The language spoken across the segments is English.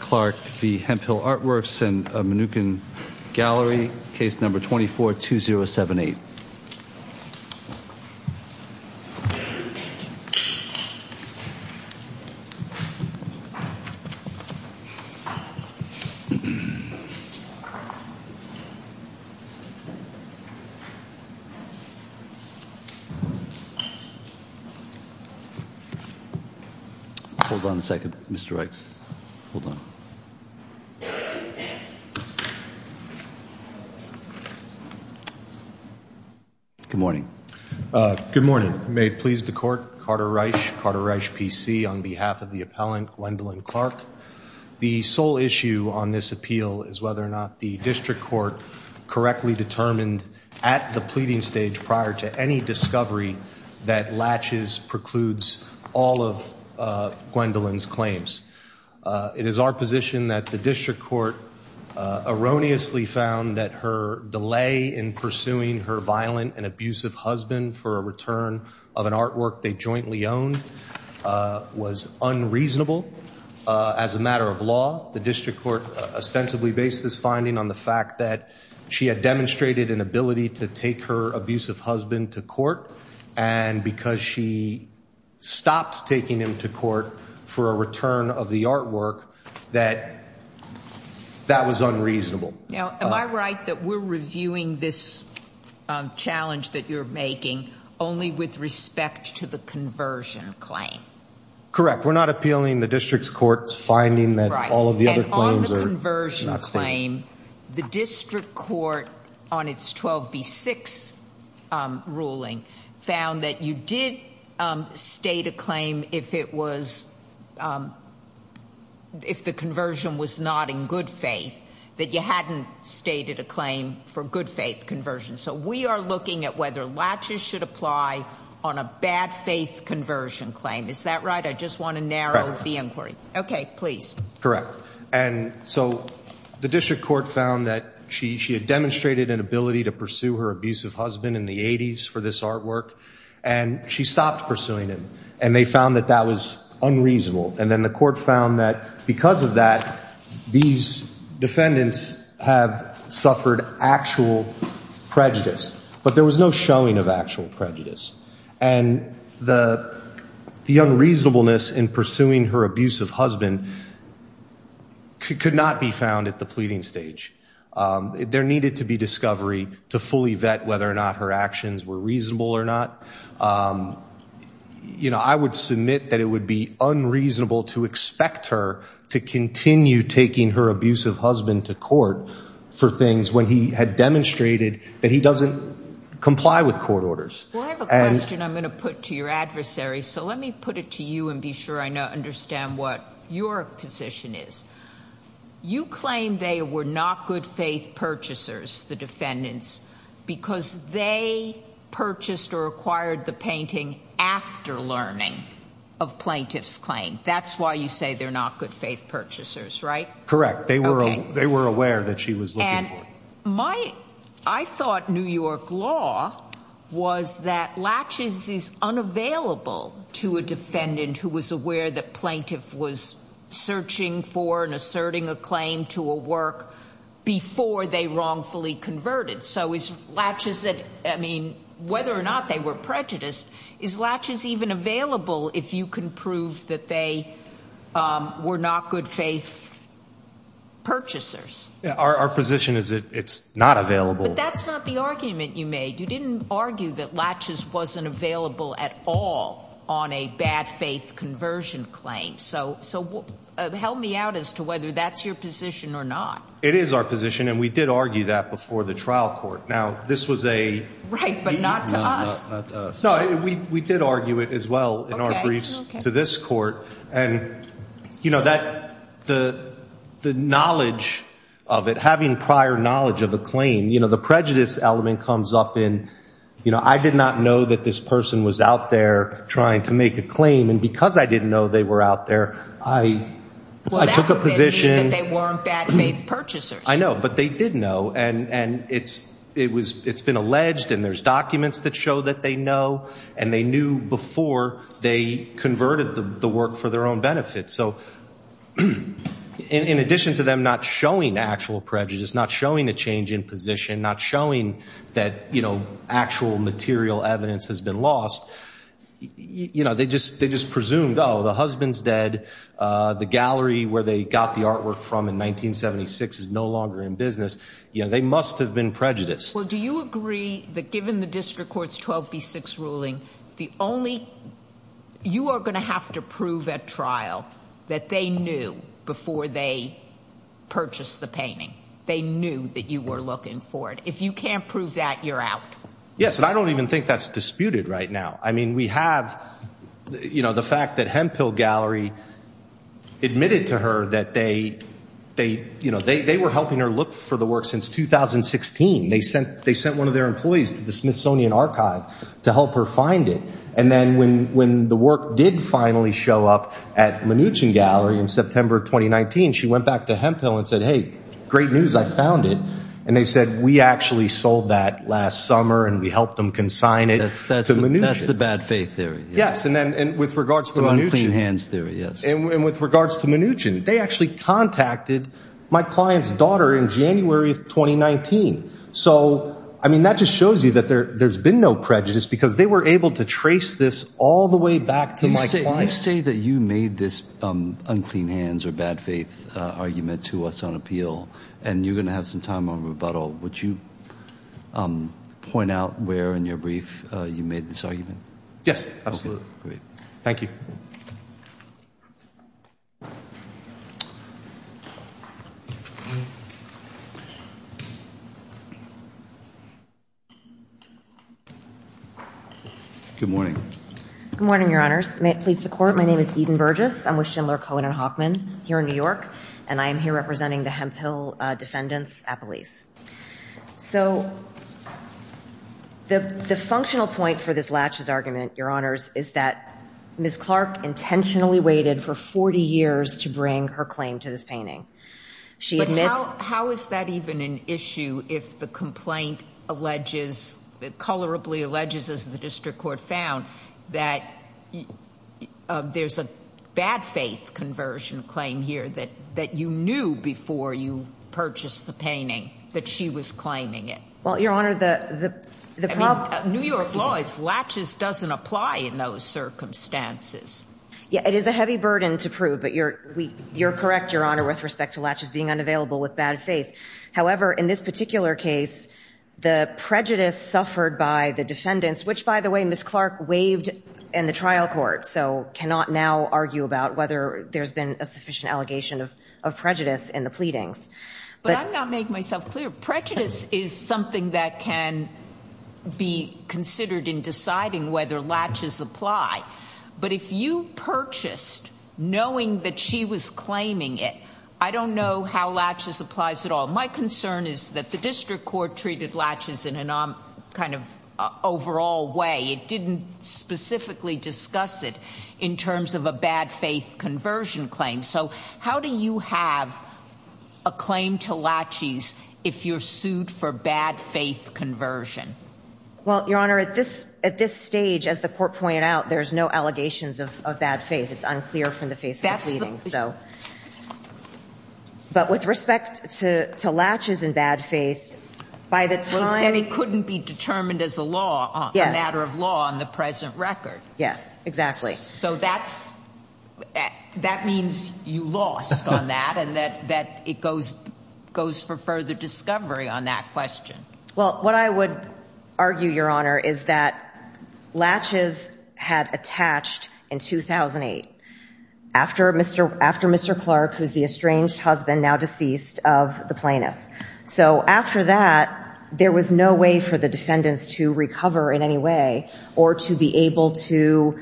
Clark v. Hemphill Artworks and the Mnookin Gallery, case number 24-2078. Hold on a second, Mr. Wright, hold on. Good morning. Good morning. May it please the court, Carter Reich, Carter Reich, PC, on behalf of the appellant Gwendolyn Clark. The sole issue on this appeal is whether or not the district court correctly determined at the pleading stage prior to any discovery that latches, precludes all of Gwendolyn's claims. It is our position that the district court erroneously found that her delay in pursuing her violent and abusive husband for a return of an artwork they jointly owned was unreasonable. As a matter of law, the district court ostensibly based this finding on the fact that she had demonstrated an ability to take her abusive husband to court, and because she stopped taking him to court for a return of the artwork, that that was unreasonable. Now, am I right that we're reviewing this challenge that you're making only with respect to the conversion claim? Correct. We're not appealing the district's court's finding that all of the other claims are not stated. And on the conversion claim, the district court on its 12B6 ruling found that you did state a claim if it was, if the conversion was not in good faith, that you hadn't stated a claim for good faith conversion. So we are looking at whether latches should apply on a bad faith conversion claim. Is that right? I just want to narrow the inquiry. Okay, please. Correct. And so the district court found that she had demonstrated an ability to pursue her abusive husband in the 80s for this artwork, and she stopped pursuing him. And they found that that was unreasonable. And then the court found that because of that, these defendants have suffered actual prejudice. But there was no showing of actual prejudice. And the unreasonableness in pursuing her abusive husband could not be found at the pleading stage. There needed to be discovery to fully vet whether or not her actions were reasonable or not. You know, I would submit that it would be unreasonable to expect her to continue taking her abusive husband to court for things when he had demonstrated that he doesn't comply with court orders. Well, I have a question I'm going to put to your adversary. So let me put it to you and be sure I understand what your position is. You claim they were not good faith purchasers, the defendants, because they purchased or acquired the painting after learning of plaintiff's claim. That's why you say they're not good faith purchasers, right? Correct. They were. They were aware that she was. And my I thought New York law was that latches is unavailable to a defendant who was aware that plaintiff was searching for and asserting a claim to a work before they wrongfully converted. So is latches that I mean, whether or not they were prejudiced, is latches even available if you can prove that they were not good faith purchasers? Our position is that it's not available. That's not the argument you made. You didn't argue that latches wasn't available at all on a bad faith conversion claim. So so help me out as to whether that's your position or not. It is our position, and we did argue that before the trial court. Now, this was a right, but not to us. So we did argue it as well in our briefs to this court. And, you know, that the the knowledge of it, having prior knowledge of the claim, you know, the prejudice element comes up in, you know, I did not know that this person was out there trying to make a claim. And because I didn't know they were out there, I took a position that they weren't bad faith purchasers. I know, but they didn't know. And it's it was it's been alleged and there's documents that show that they know and they knew before they converted the work for their own benefit. So in addition to them not showing actual prejudice, not showing a change in position, not showing that, you know, actual material evidence has been lost. You know, they just they just presumed, oh, the husband's dead. The gallery where they got the artwork from in 1976 is no longer in business. You know, they must have been prejudiced. Well, do you agree that given the district court's 12 B6 ruling, the only you are going to have to prove at trial that they knew before they purchased the painting, they knew that you were looking for it. If you can't prove that you're out. Yes. And I don't even think that's disputed right now. I mean, we have, you know, the fact that Hemphill Gallery admitted to her that they they you know, they were helping her look for the work since 2016. They sent they sent one of their employees to the Smithsonian Archive to help her find it. And then when when the work did finally show up at Mnuchin Gallery in September 2019, she went back to Hemphill and said, hey, great news. I found it. And they said, we actually sold that last summer and we helped them consign it. That's that's that's the bad faith theory. Yes. And then with regards to unclean hands theory. And with regards to Mnuchin, they actually contacted my client's daughter in January of 2019. So, I mean, that just shows you that there there's been no prejudice because they were able to trace this all the way back to my client. You say that you made this unclean hands or bad faith argument to us on appeal and you're going to have some time on rebuttal. Would you point out where in your brief you made this argument? Yes, absolutely. Thank you. Good morning. Good morning, Your Honors. May it please the court. My name is Eden Burgess. I'm with Schindler, Cohen and Hockman here in New York. And I am here representing the Hemphill defendants at police. So the functional point for this latches argument, Your Honors, is that Miss Clark intentionally waited for 40 years to bring her claim to this painting. She admits. How is that even an issue? If the complaint alleges colorably alleges, as the district court found that there's a bad faith conversion claim here that that you knew before you purchased the painting, that she was claiming it. Well, Your Honor, the the New York law is latches doesn't apply in those circumstances. Yeah, it is a heavy burden to prove. But you're you're correct, Your Honor, with respect to latches being unavailable with bad faith. However, in this particular case, the prejudice suffered by the defendants, which, by the way, Miss Clark waived in the trial court. So cannot now argue about whether there's been a sufficient allegation of prejudice in the pleadings. But I'm not make myself clear. Prejudice is something that can be considered in deciding whether latches apply. But if you purchased knowing that she was claiming it, I don't know how latches applies at all. My concern is that the district court treated latches in an kind of overall way. It didn't specifically discuss it in terms of a bad faith conversion claim. So how do you have a claim to latches if you're sued for bad faith conversion? Well, Your Honor, at this at this stage, as the court pointed out, there's no allegations of bad faith. It's unclear from the face of that. So. But with respect to latches and bad faith, by the time it couldn't be determined as a law. Yes. Matter of law on the present record. Yes, exactly. So that's that means you lost on that and that that it goes goes for further discovery on that question. Well, what I would argue, Your Honor, is that latches had attached in 2008 after Mr. After Mr. Clark, who's the estranged husband now deceased of the plaintiff. So after that, there was no way for the defendants to recover in any way or to be able to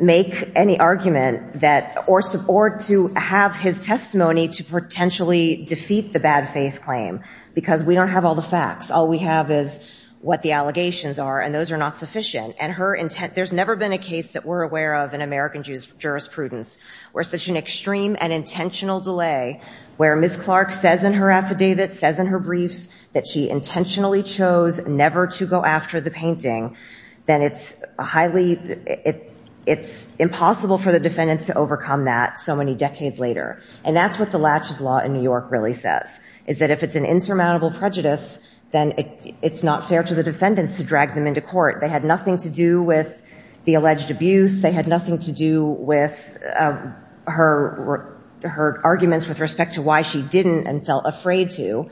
make any argument that or support to have his testimony to potentially defeat the bad faith claim. Because we don't have all the facts. All we have is what the allegations are and those are not sufficient. And her intent. There's never been a case that we're aware of in American jurisprudence where such an extreme and intentional delay where Ms. Clark says in her affidavit, says in her briefs that she intentionally chose never to go after the painting. Then it's highly it's impossible for the defendants to overcome that so many decades later. And that's what the latches law in New York really says, is that if it's an insurmountable prejudice, then it's not fair to the defendants to drag them into court. They had nothing to do with the alleged abuse. They had nothing to do with her. Her arguments with respect to why she didn't and felt afraid to.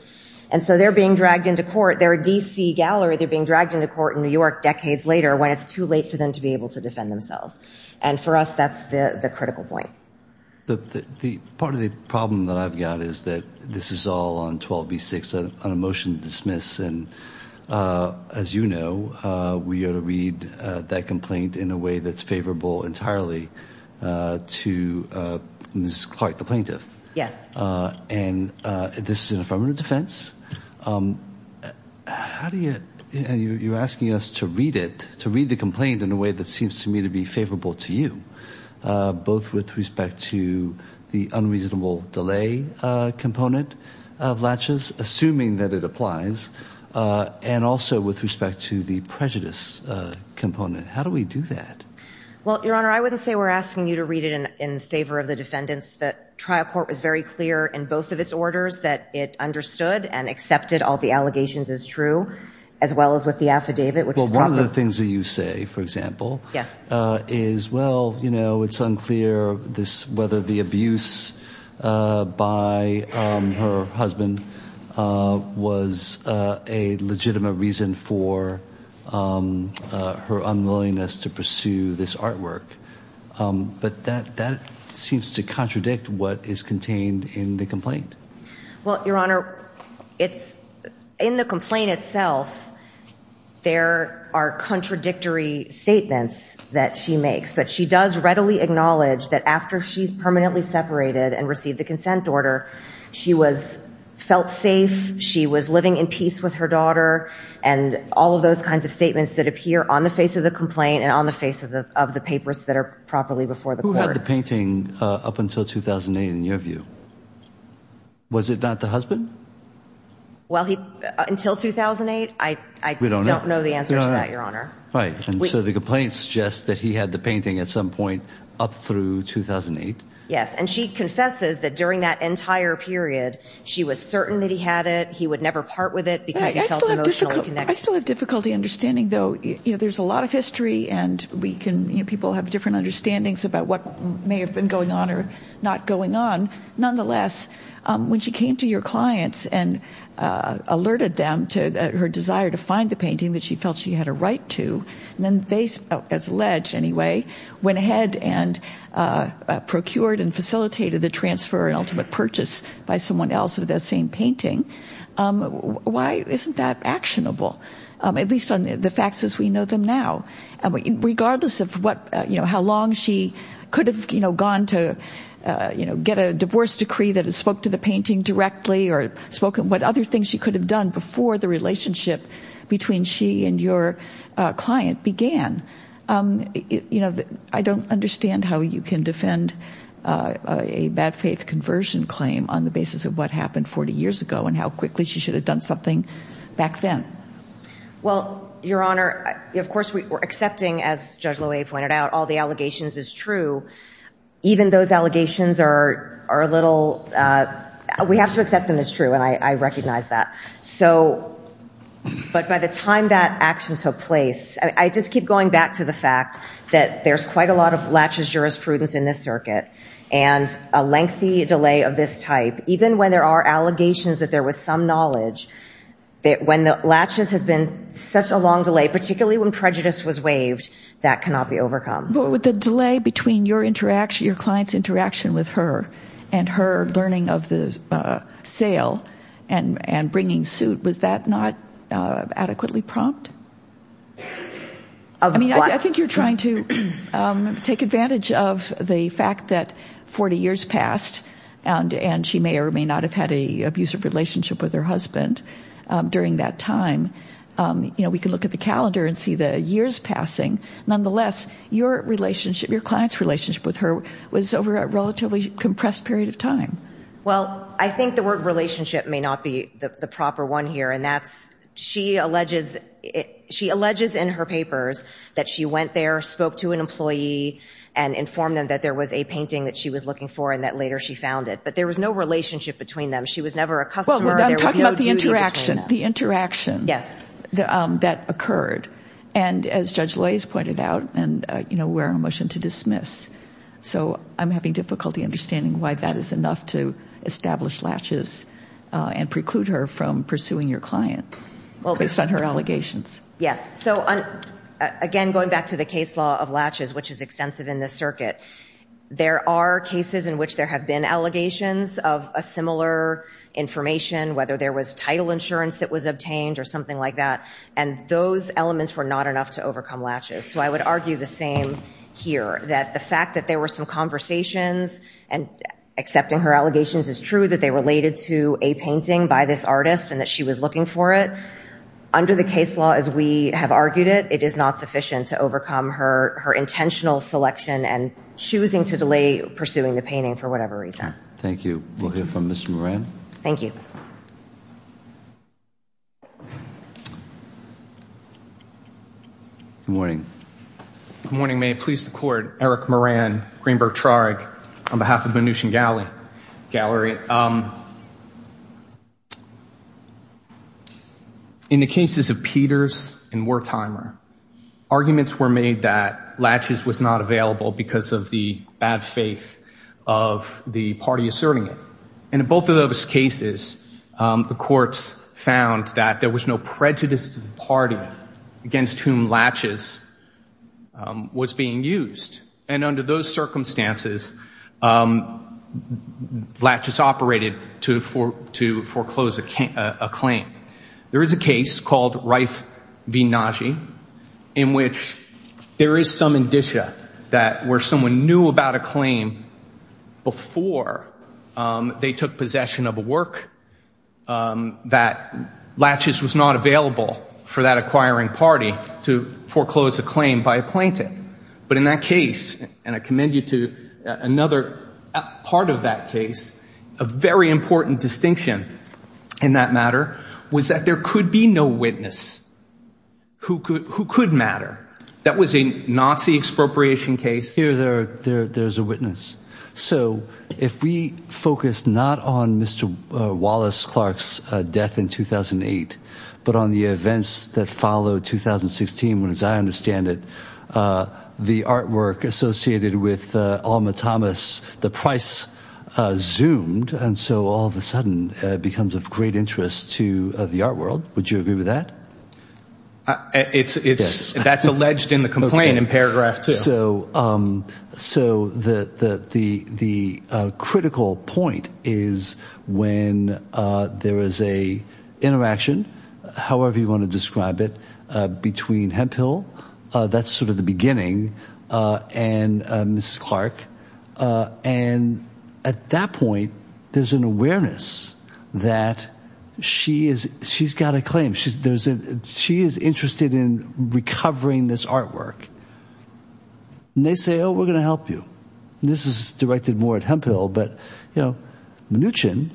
And so they're being dragged into court. They're a D.C. gallery. They're being dragged into court in New York decades later when it's too late for them to be able to defend themselves. And for us, that's the critical point. The part of the problem that I've got is that this is all on 12. Be six on a motion to dismiss. And as you know, we are to read that complaint in a way that's favorable entirely to Ms. Clark, the plaintiff. Yes. And this is an affirmative defense. How do you and you're asking us to read it, to read the complaint in a way that seems to me to be favorable to you, both with respect to the unreasonable delay component of latches, assuming that it applies, and also with respect to the prejudice component. How do we do that? Well, Your Honor, I wouldn't say we're asking you to read it in favor of the defendants. The trial court was very clear in both of its orders that it understood and accepted all the allegations as true, as well as with the affidavit, which one of the things that you say, for example, yes, is, well, you know, it's unclear. This whether the abuse by her husband was a legitimate reason for her unwillingness to pursue this artwork. But that that seems to contradict what is contained in the complaint. Well, Your Honor, it's in the complaint itself. There are contradictory statements that she makes, but she does readily acknowledge that after she's permanently separated and received the consent order, she was felt safe. She was living in peace with her daughter and all of those kinds of statements that appear on the face of the complaint and on the face of the papers that are properly before the court. Who had the painting up until 2008 in your view? Was it not the husband? Well, until 2008, I don't know the answer to that, Your Honor. Right. And so the complaint suggests that he had the painting at some point up through 2008. Yes. And she confesses that during that entire period, she was certain that he had it. He would never part with it because he felt emotionally connected. I still have difficulty understanding, though. You know, there's a lot of history and we can people have different understandings about what may have been going on or not going on. Nonetheless, when she came to your clients and alerted them to her desire to find the painting that she felt she had a right to, then they, as alleged anyway, went ahead and procured and facilitated the transfer and ultimate purchase by someone else of that same painting. Why isn't that actionable, at least on the facts as we know them now? And regardless of what, you know, how long she could have, you know, gone to, you know, get a divorce decree that spoke to the painting directly or spoken, what other things she could have done before the relationship between she and your client began? You know, I don't understand how you can defend a bad faith conversion claim on the basis of what happened 40 years ago and how quickly she should have done something back then. Well, Your Honor, of course we're accepting, as Judge Loewe pointed out, all the allegations as true. Even those allegations are a little, we have to accept them as true, and I recognize that. So, but by the time that action took place, I just keep going back to the fact that there's quite a lot of laches jurisprudence in this circuit and a lengthy delay of this type, even when there are allegations that there was some knowledge, when the laches has been such a long delay, particularly when prejudice was waived, that cannot be overcome. But with the delay between your client's interaction with her and her learning of the sale and bringing suit, was that not adequately prompt? I mean, I think you're trying to take advantage of the fact that 40 years passed and she may or may not have had an abusive relationship with her husband during that time. You know, we can look at the calendar and see the years passing. Nonetheless, your relationship, your client's relationship with her was over a relatively compressed period of time. Well, I think the word relationship may not be the proper one here, and that's she alleges in her papers that she went there, spoke to an employee, and informed them that there was a painting that she was looking for and that later she found it. But there was no relationship between them. She was never a customer. Well, I'm talking about the interaction. There was no duty between them. The interaction. Yes. That occurred. And as Judge Lays pointed out, and, you know, we're on a motion to dismiss. So I'm having difficulty understanding why that is enough to establish latches and preclude her from pursuing your client based on her allegations. Yes. So, again, going back to the case law of latches, which is extensive in this circuit, there are cases in which there have been allegations of a similar information, whether there was title insurance that was obtained or something like that, and those elements were not enough to overcome latches. So I would argue the same here, that the fact that there were some conversations and accepting her allegations is true that they related to a painting by this artist and that she was looking for it. Under the case law, as we have argued it, it is not sufficient to overcome her intentional selection and choosing to delay pursuing the painting for whatever reason. Thank you. We'll hear from Mr. Moran. Thank you. Good morning. Good morning. May it please the Court. Eric Moran, Greenberg Trag, on behalf of the Mnuchin Gallery. In the cases of Peters and Wertheimer, arguments were made that latches was not available because of the bad faith of the party asserting it. And in both of those cases, the courts found that there was no prejudice to the party against whom latches was being used. And under those circumstances, latches operated to foreclose a claim. There is a case called Reif v. Nagy in which there is some indicia that where someone knew about a claim before they took possession of a work, that latches was not available for that acquiring party to foreclose a claim by a plaintiff. But in that case, and I commend you to another part of that case, a very important distinction in that matter was that there could be no witness who could matter. That was a Nazi expropriation case. Here there is a witness. So if we focus not on Mr. Wallace Clark's death in 2008, but on the events that followed 2016, as I understand it, the artwork associated with Alma Thomas, the price zoomed, and so all of a sudden it becomes of great interest to the art world. Would you agree with that? That's alleged in the complaint in paragraph two. So the critical point is when there is a interaction, however you want to describe it, between Hemphill, that's sort of the beginning, and Mrs. Clark, and at that point there's an awareness that she's got a claim. She is interested in recovering this artwork. And they say, oh, we're going to help you. This is directed more at Hemphill, but Mnuchin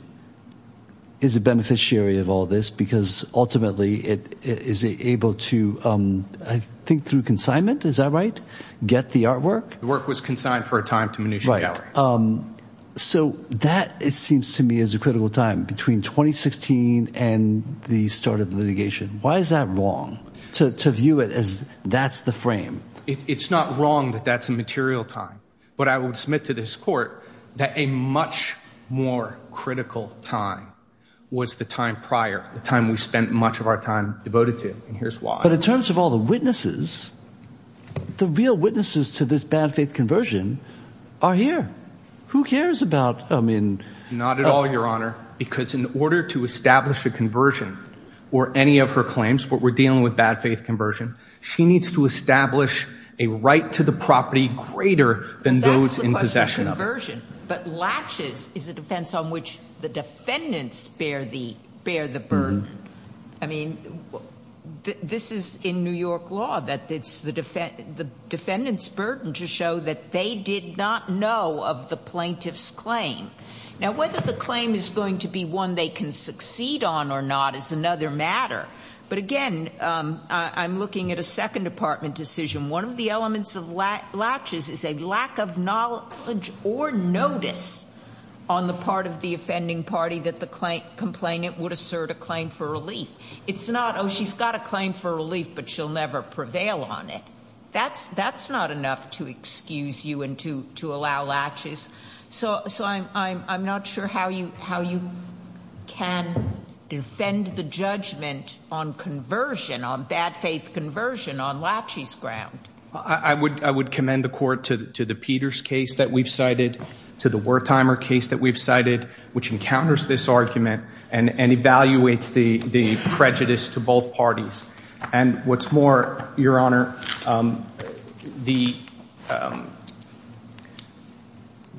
is a beneficiary of all this because ultimately it is able to, I think through consignment, is that right, get the artwork? The work was consigned for a time to Mnuchin Gallery. Right. So that, it seems to me, is a critical time between 2016 and the start of litigation. Why is that wrong to view it as that's the frame? It's not wrong that that's a material time. But I would submit to this court that a much more critical time was the time prior, the time we spent much of our time devoted to, and here's why. But in terms of all the witnesses, the real witnesses to this bad faith conversion are here. Who cares about, I mean. Not at all, Your Honor, because in order to establish a conversion or any of her claims, what we're dealing with, bad faith conversion, she needs to establish a right to the property greater than those in possession of it. But latches is a defense on which the defendants bear the burden. I mean, this is in New York law that it's the defendant's burden to show that they did not know of the plaintiff's claim. Now, whether the claim is going to be one they can succeed on or not is another matter. But again, I'm looking at a Second Department decision. One of the elements of latches is a lack of knowledge or notice on the part of the offending party that the complainant would assert a claim for relief. It's not, oh, she's got a claim for relief, but she'll never prevail on it. That's not enough to excuse you and to allow latches. So I'm not sure how you can defend the judgment on conversion, on bad faith conversion, on latches ground. I would commend the court to the Peters case that we've cited, to the Wertheimer case that we've cited, which encounters this argument and evaluates the prejudice to both parties. And what's more, Your Honor, the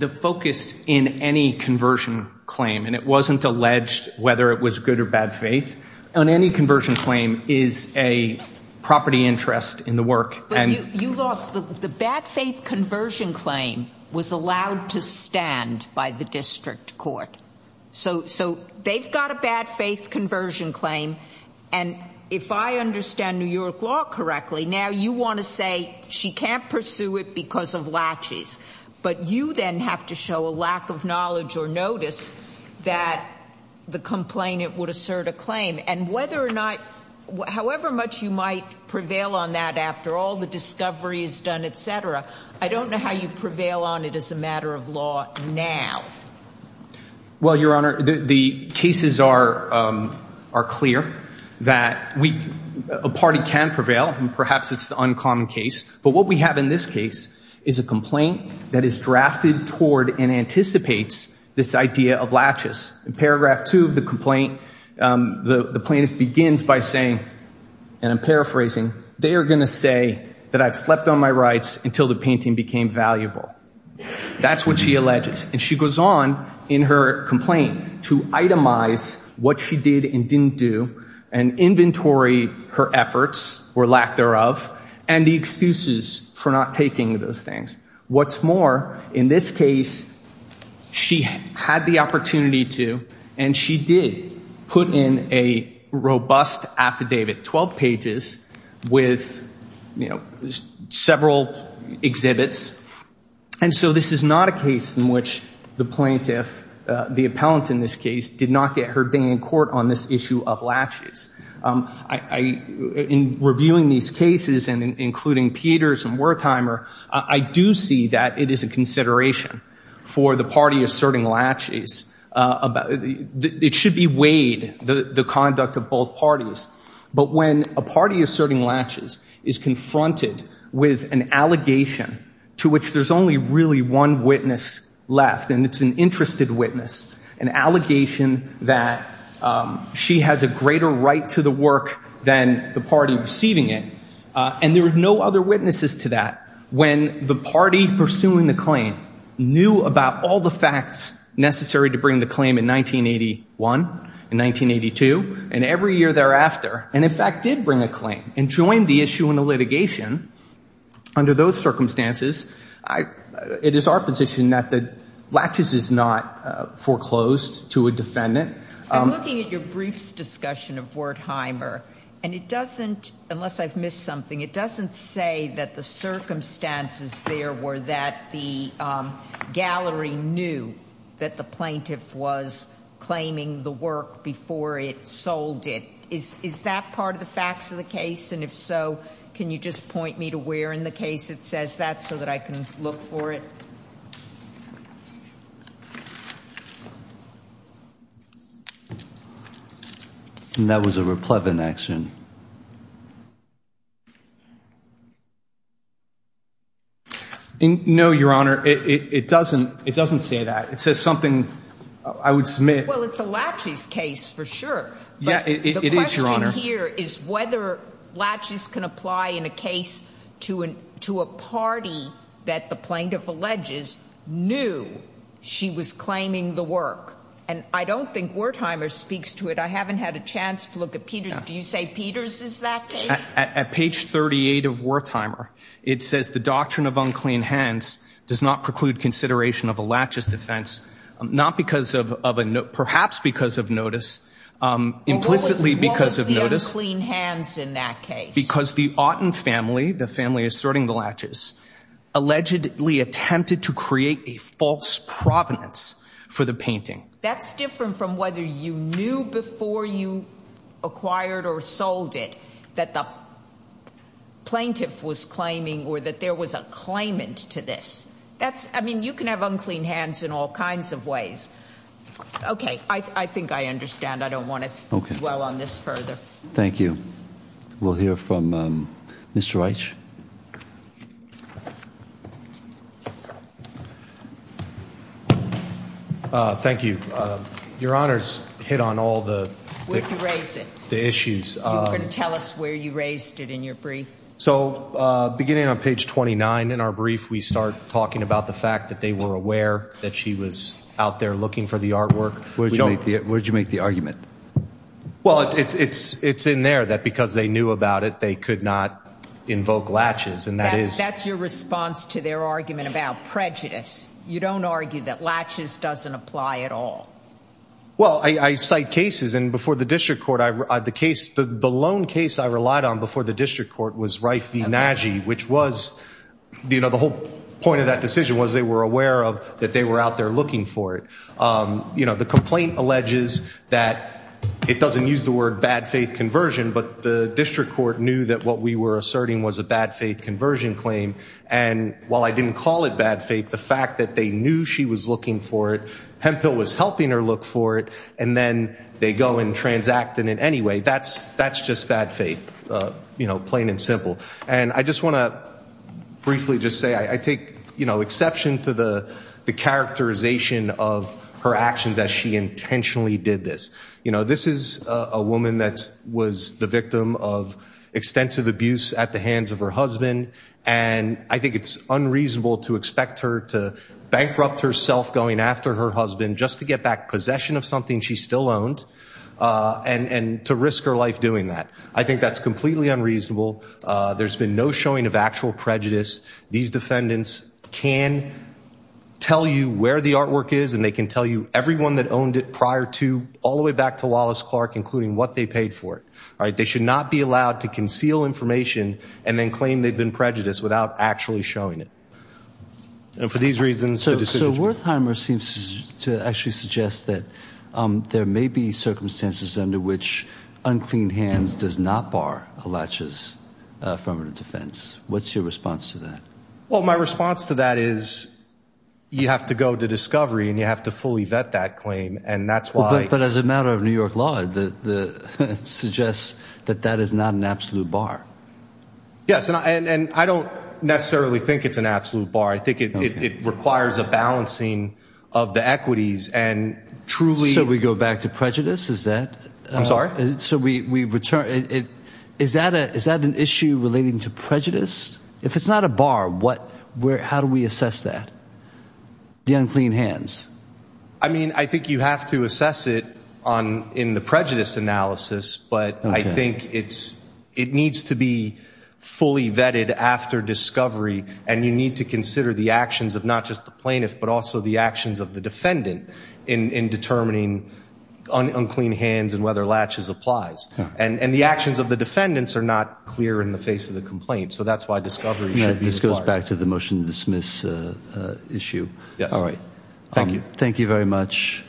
focus in any conversion claim, and it wasn't alleged whether it was good or bad faith, on any conversion claim is a property interest in the work. But you lost the bad faith conversion claim was allowed to stand by the district court. So they've got a bad faith conversion claim. And if I understand New York law correctly, now you want to say she can't pursue it because of latches. But you then have to show a lack of knowledge or notice that the complainant would assert a claim. And whether or not, however much you might prevail on that after all the discovery is done, et cetera. I don't know how you prevail on it as a matter of law now. Well, Your Honor, the cases are clear that a party can prevail. And perhaps it's the uncommon case. But what we have in this case is a complaint that is drafted toward and anticipates this idea of latches. In paragraph two of the complaint, the plaintiff begins by saying, and I'm paraphrasing, they are going to say that I've slept on my rights until the painting became valuable. That's what she alleges. And she goes on in her complaint to itemize what she did and didn't do and inventory her efforts or lack thereof and the excuses for not taking those things. What's more, in this case, she had the opportunity to and she did put in a robust affidavit, 12 pages, with several exhibits. And so this is not a case in which the plaintiff, the appellant in this case, did not get her day in court on this issue of latches. In reviewing these cases, including Peters and Wertheimer, I do see that it is a consideration for the party asserting latches. It should be weighed, the conduct of both parties. But when a party asserting latches is confronted with an allegation to which there's only really one witness left, and it's an interested witness, an allegation that she has a greater right to the work than the party receiving it, and there are no other witnesses to that, when the party pursuing the claim knew about all the facts necessary to bring the claim in 1981, in 1982, and every year thereafter, and in fact did bring a claim and joined the issue in a litigation under those circumstances, it is our position that the latches is not foreclosed to a defendant. I'm looking at your briefs discussion of Wertheimer, and it doesn't, unless I've missed something, it doesn't say that the circumstances there were that the gallery knew that the plaintiff was claiming the work before it sold it. Is that part of the facts of the case? And if so, can you just point me to where in the case it says that so that I can look for it? And that was a replevant action. No, Your Honor, it doesn't. It doesn't say that. It says something I would submit. Well, it's a latches case for sure. Yeah, it is, Your Honor. The question here is whether latches can apply in a case to a party that the plaintiff alleges knew she was claiming the work. And I don't think Wertheimer speaks to it. I haven't had a chance to look at Peters. Do you say Peters is that case? At page 38 of Wertheimer, it says the doctrine of unclean hands does not preclude consideration of a latches defense, perhaps because of notice, implicitly because of notice. What was the unclean hands in that case? Because the Auten family, the family asserting the latches, allegedly attempted to create a false provenance for the painting. That's different from whether you knew before you acquired or sold it that the plaintiff was claiming or that there was a claimant to this. That's, I mean, you can have unclean hands in all kinds of ways. Okay. I think I understand. I don't want to dwell on this further. Thank you. We'll hear from Mr. Reich. Thank you. Your Honor's hit on all the issues. You were going to tell us where you raised it in your brief. Beginning on page 29 in our brief, we start talking about the fact that they were aware that she was out there looking for the artwork. Where did you make the argument? Well, it's in there that because they knew about it, they could not invoke latches. That's your response to their argument about prejudice. You don't argue that latches doesn't apply at all. Well, I cite cases, and before the district court, the case, the lone case I relied on before the district court was Reif v. Nagy, which was, you know, the whole point of that decision was they were aware that they were out there looking for it. You know, the complaint alleges that it doesn't use the word bad faith conversion, but the district court knew that what we were asserting was a bad faith conversion claim. And while I didn't call it bad faith, the fact that they knew she was looking for it, Hemphill was helping her look for it, and then they go and transact in it anyway, that's just bad faith, you know, plain and simple. And I just want to briefly just say I take, you know, exception to the characterization of her actions as she intentionally did this. You know, this is a woman that was the victim of extensive abuse at the hands of her husband, and I think it's unreasonable to expect her to bankrupt herself going after her husband just to get back possession of something she still owned, and to risk her life doing that. I think that's completely unreasonable. There's been no showing of actual prejudice. These defendants can tell you where the artwork is, and they can tell you everyone that owned it prior to all the way back to Wallace Clark, including what they paid for it. They should not be allowed to conceal information and then claim they've been prejudiced without actually showing it. And for these reasons, the decision is made. So Wertheimer seems to actually suggest that there may be circumstances under which unclean hands does not bar a latch's affirmative defense. What's your response to that? Well, my response to that is you have to go to discovery and you have to fully vet that claim, and that's why – It's a matter of New York law that suggests that that is not an absolute bar. Yes, and I don't necessarily think it's an absolute bar. I think it requires a balancing of the equities and truly – So we go back to prejudice? Is that – I'm sorry? So we return – is that an issue relating to prejudice? If it's not a bar, how do we assess that, the unclean hands? I mean, I think you have to assess it in the prejudice analysis, but I think it needs to be fully vetted after discovery, and you need to consider the actions of not just the plaintiff but also the actions of the defendant in determining unclean hands and whether latches applies. And the actions of the defendants are not clear in the face of the complaint, so that's why discovery should be required. This goes back to the motion to dismiss issue. Yes. All right. Thank you. Thank you very much.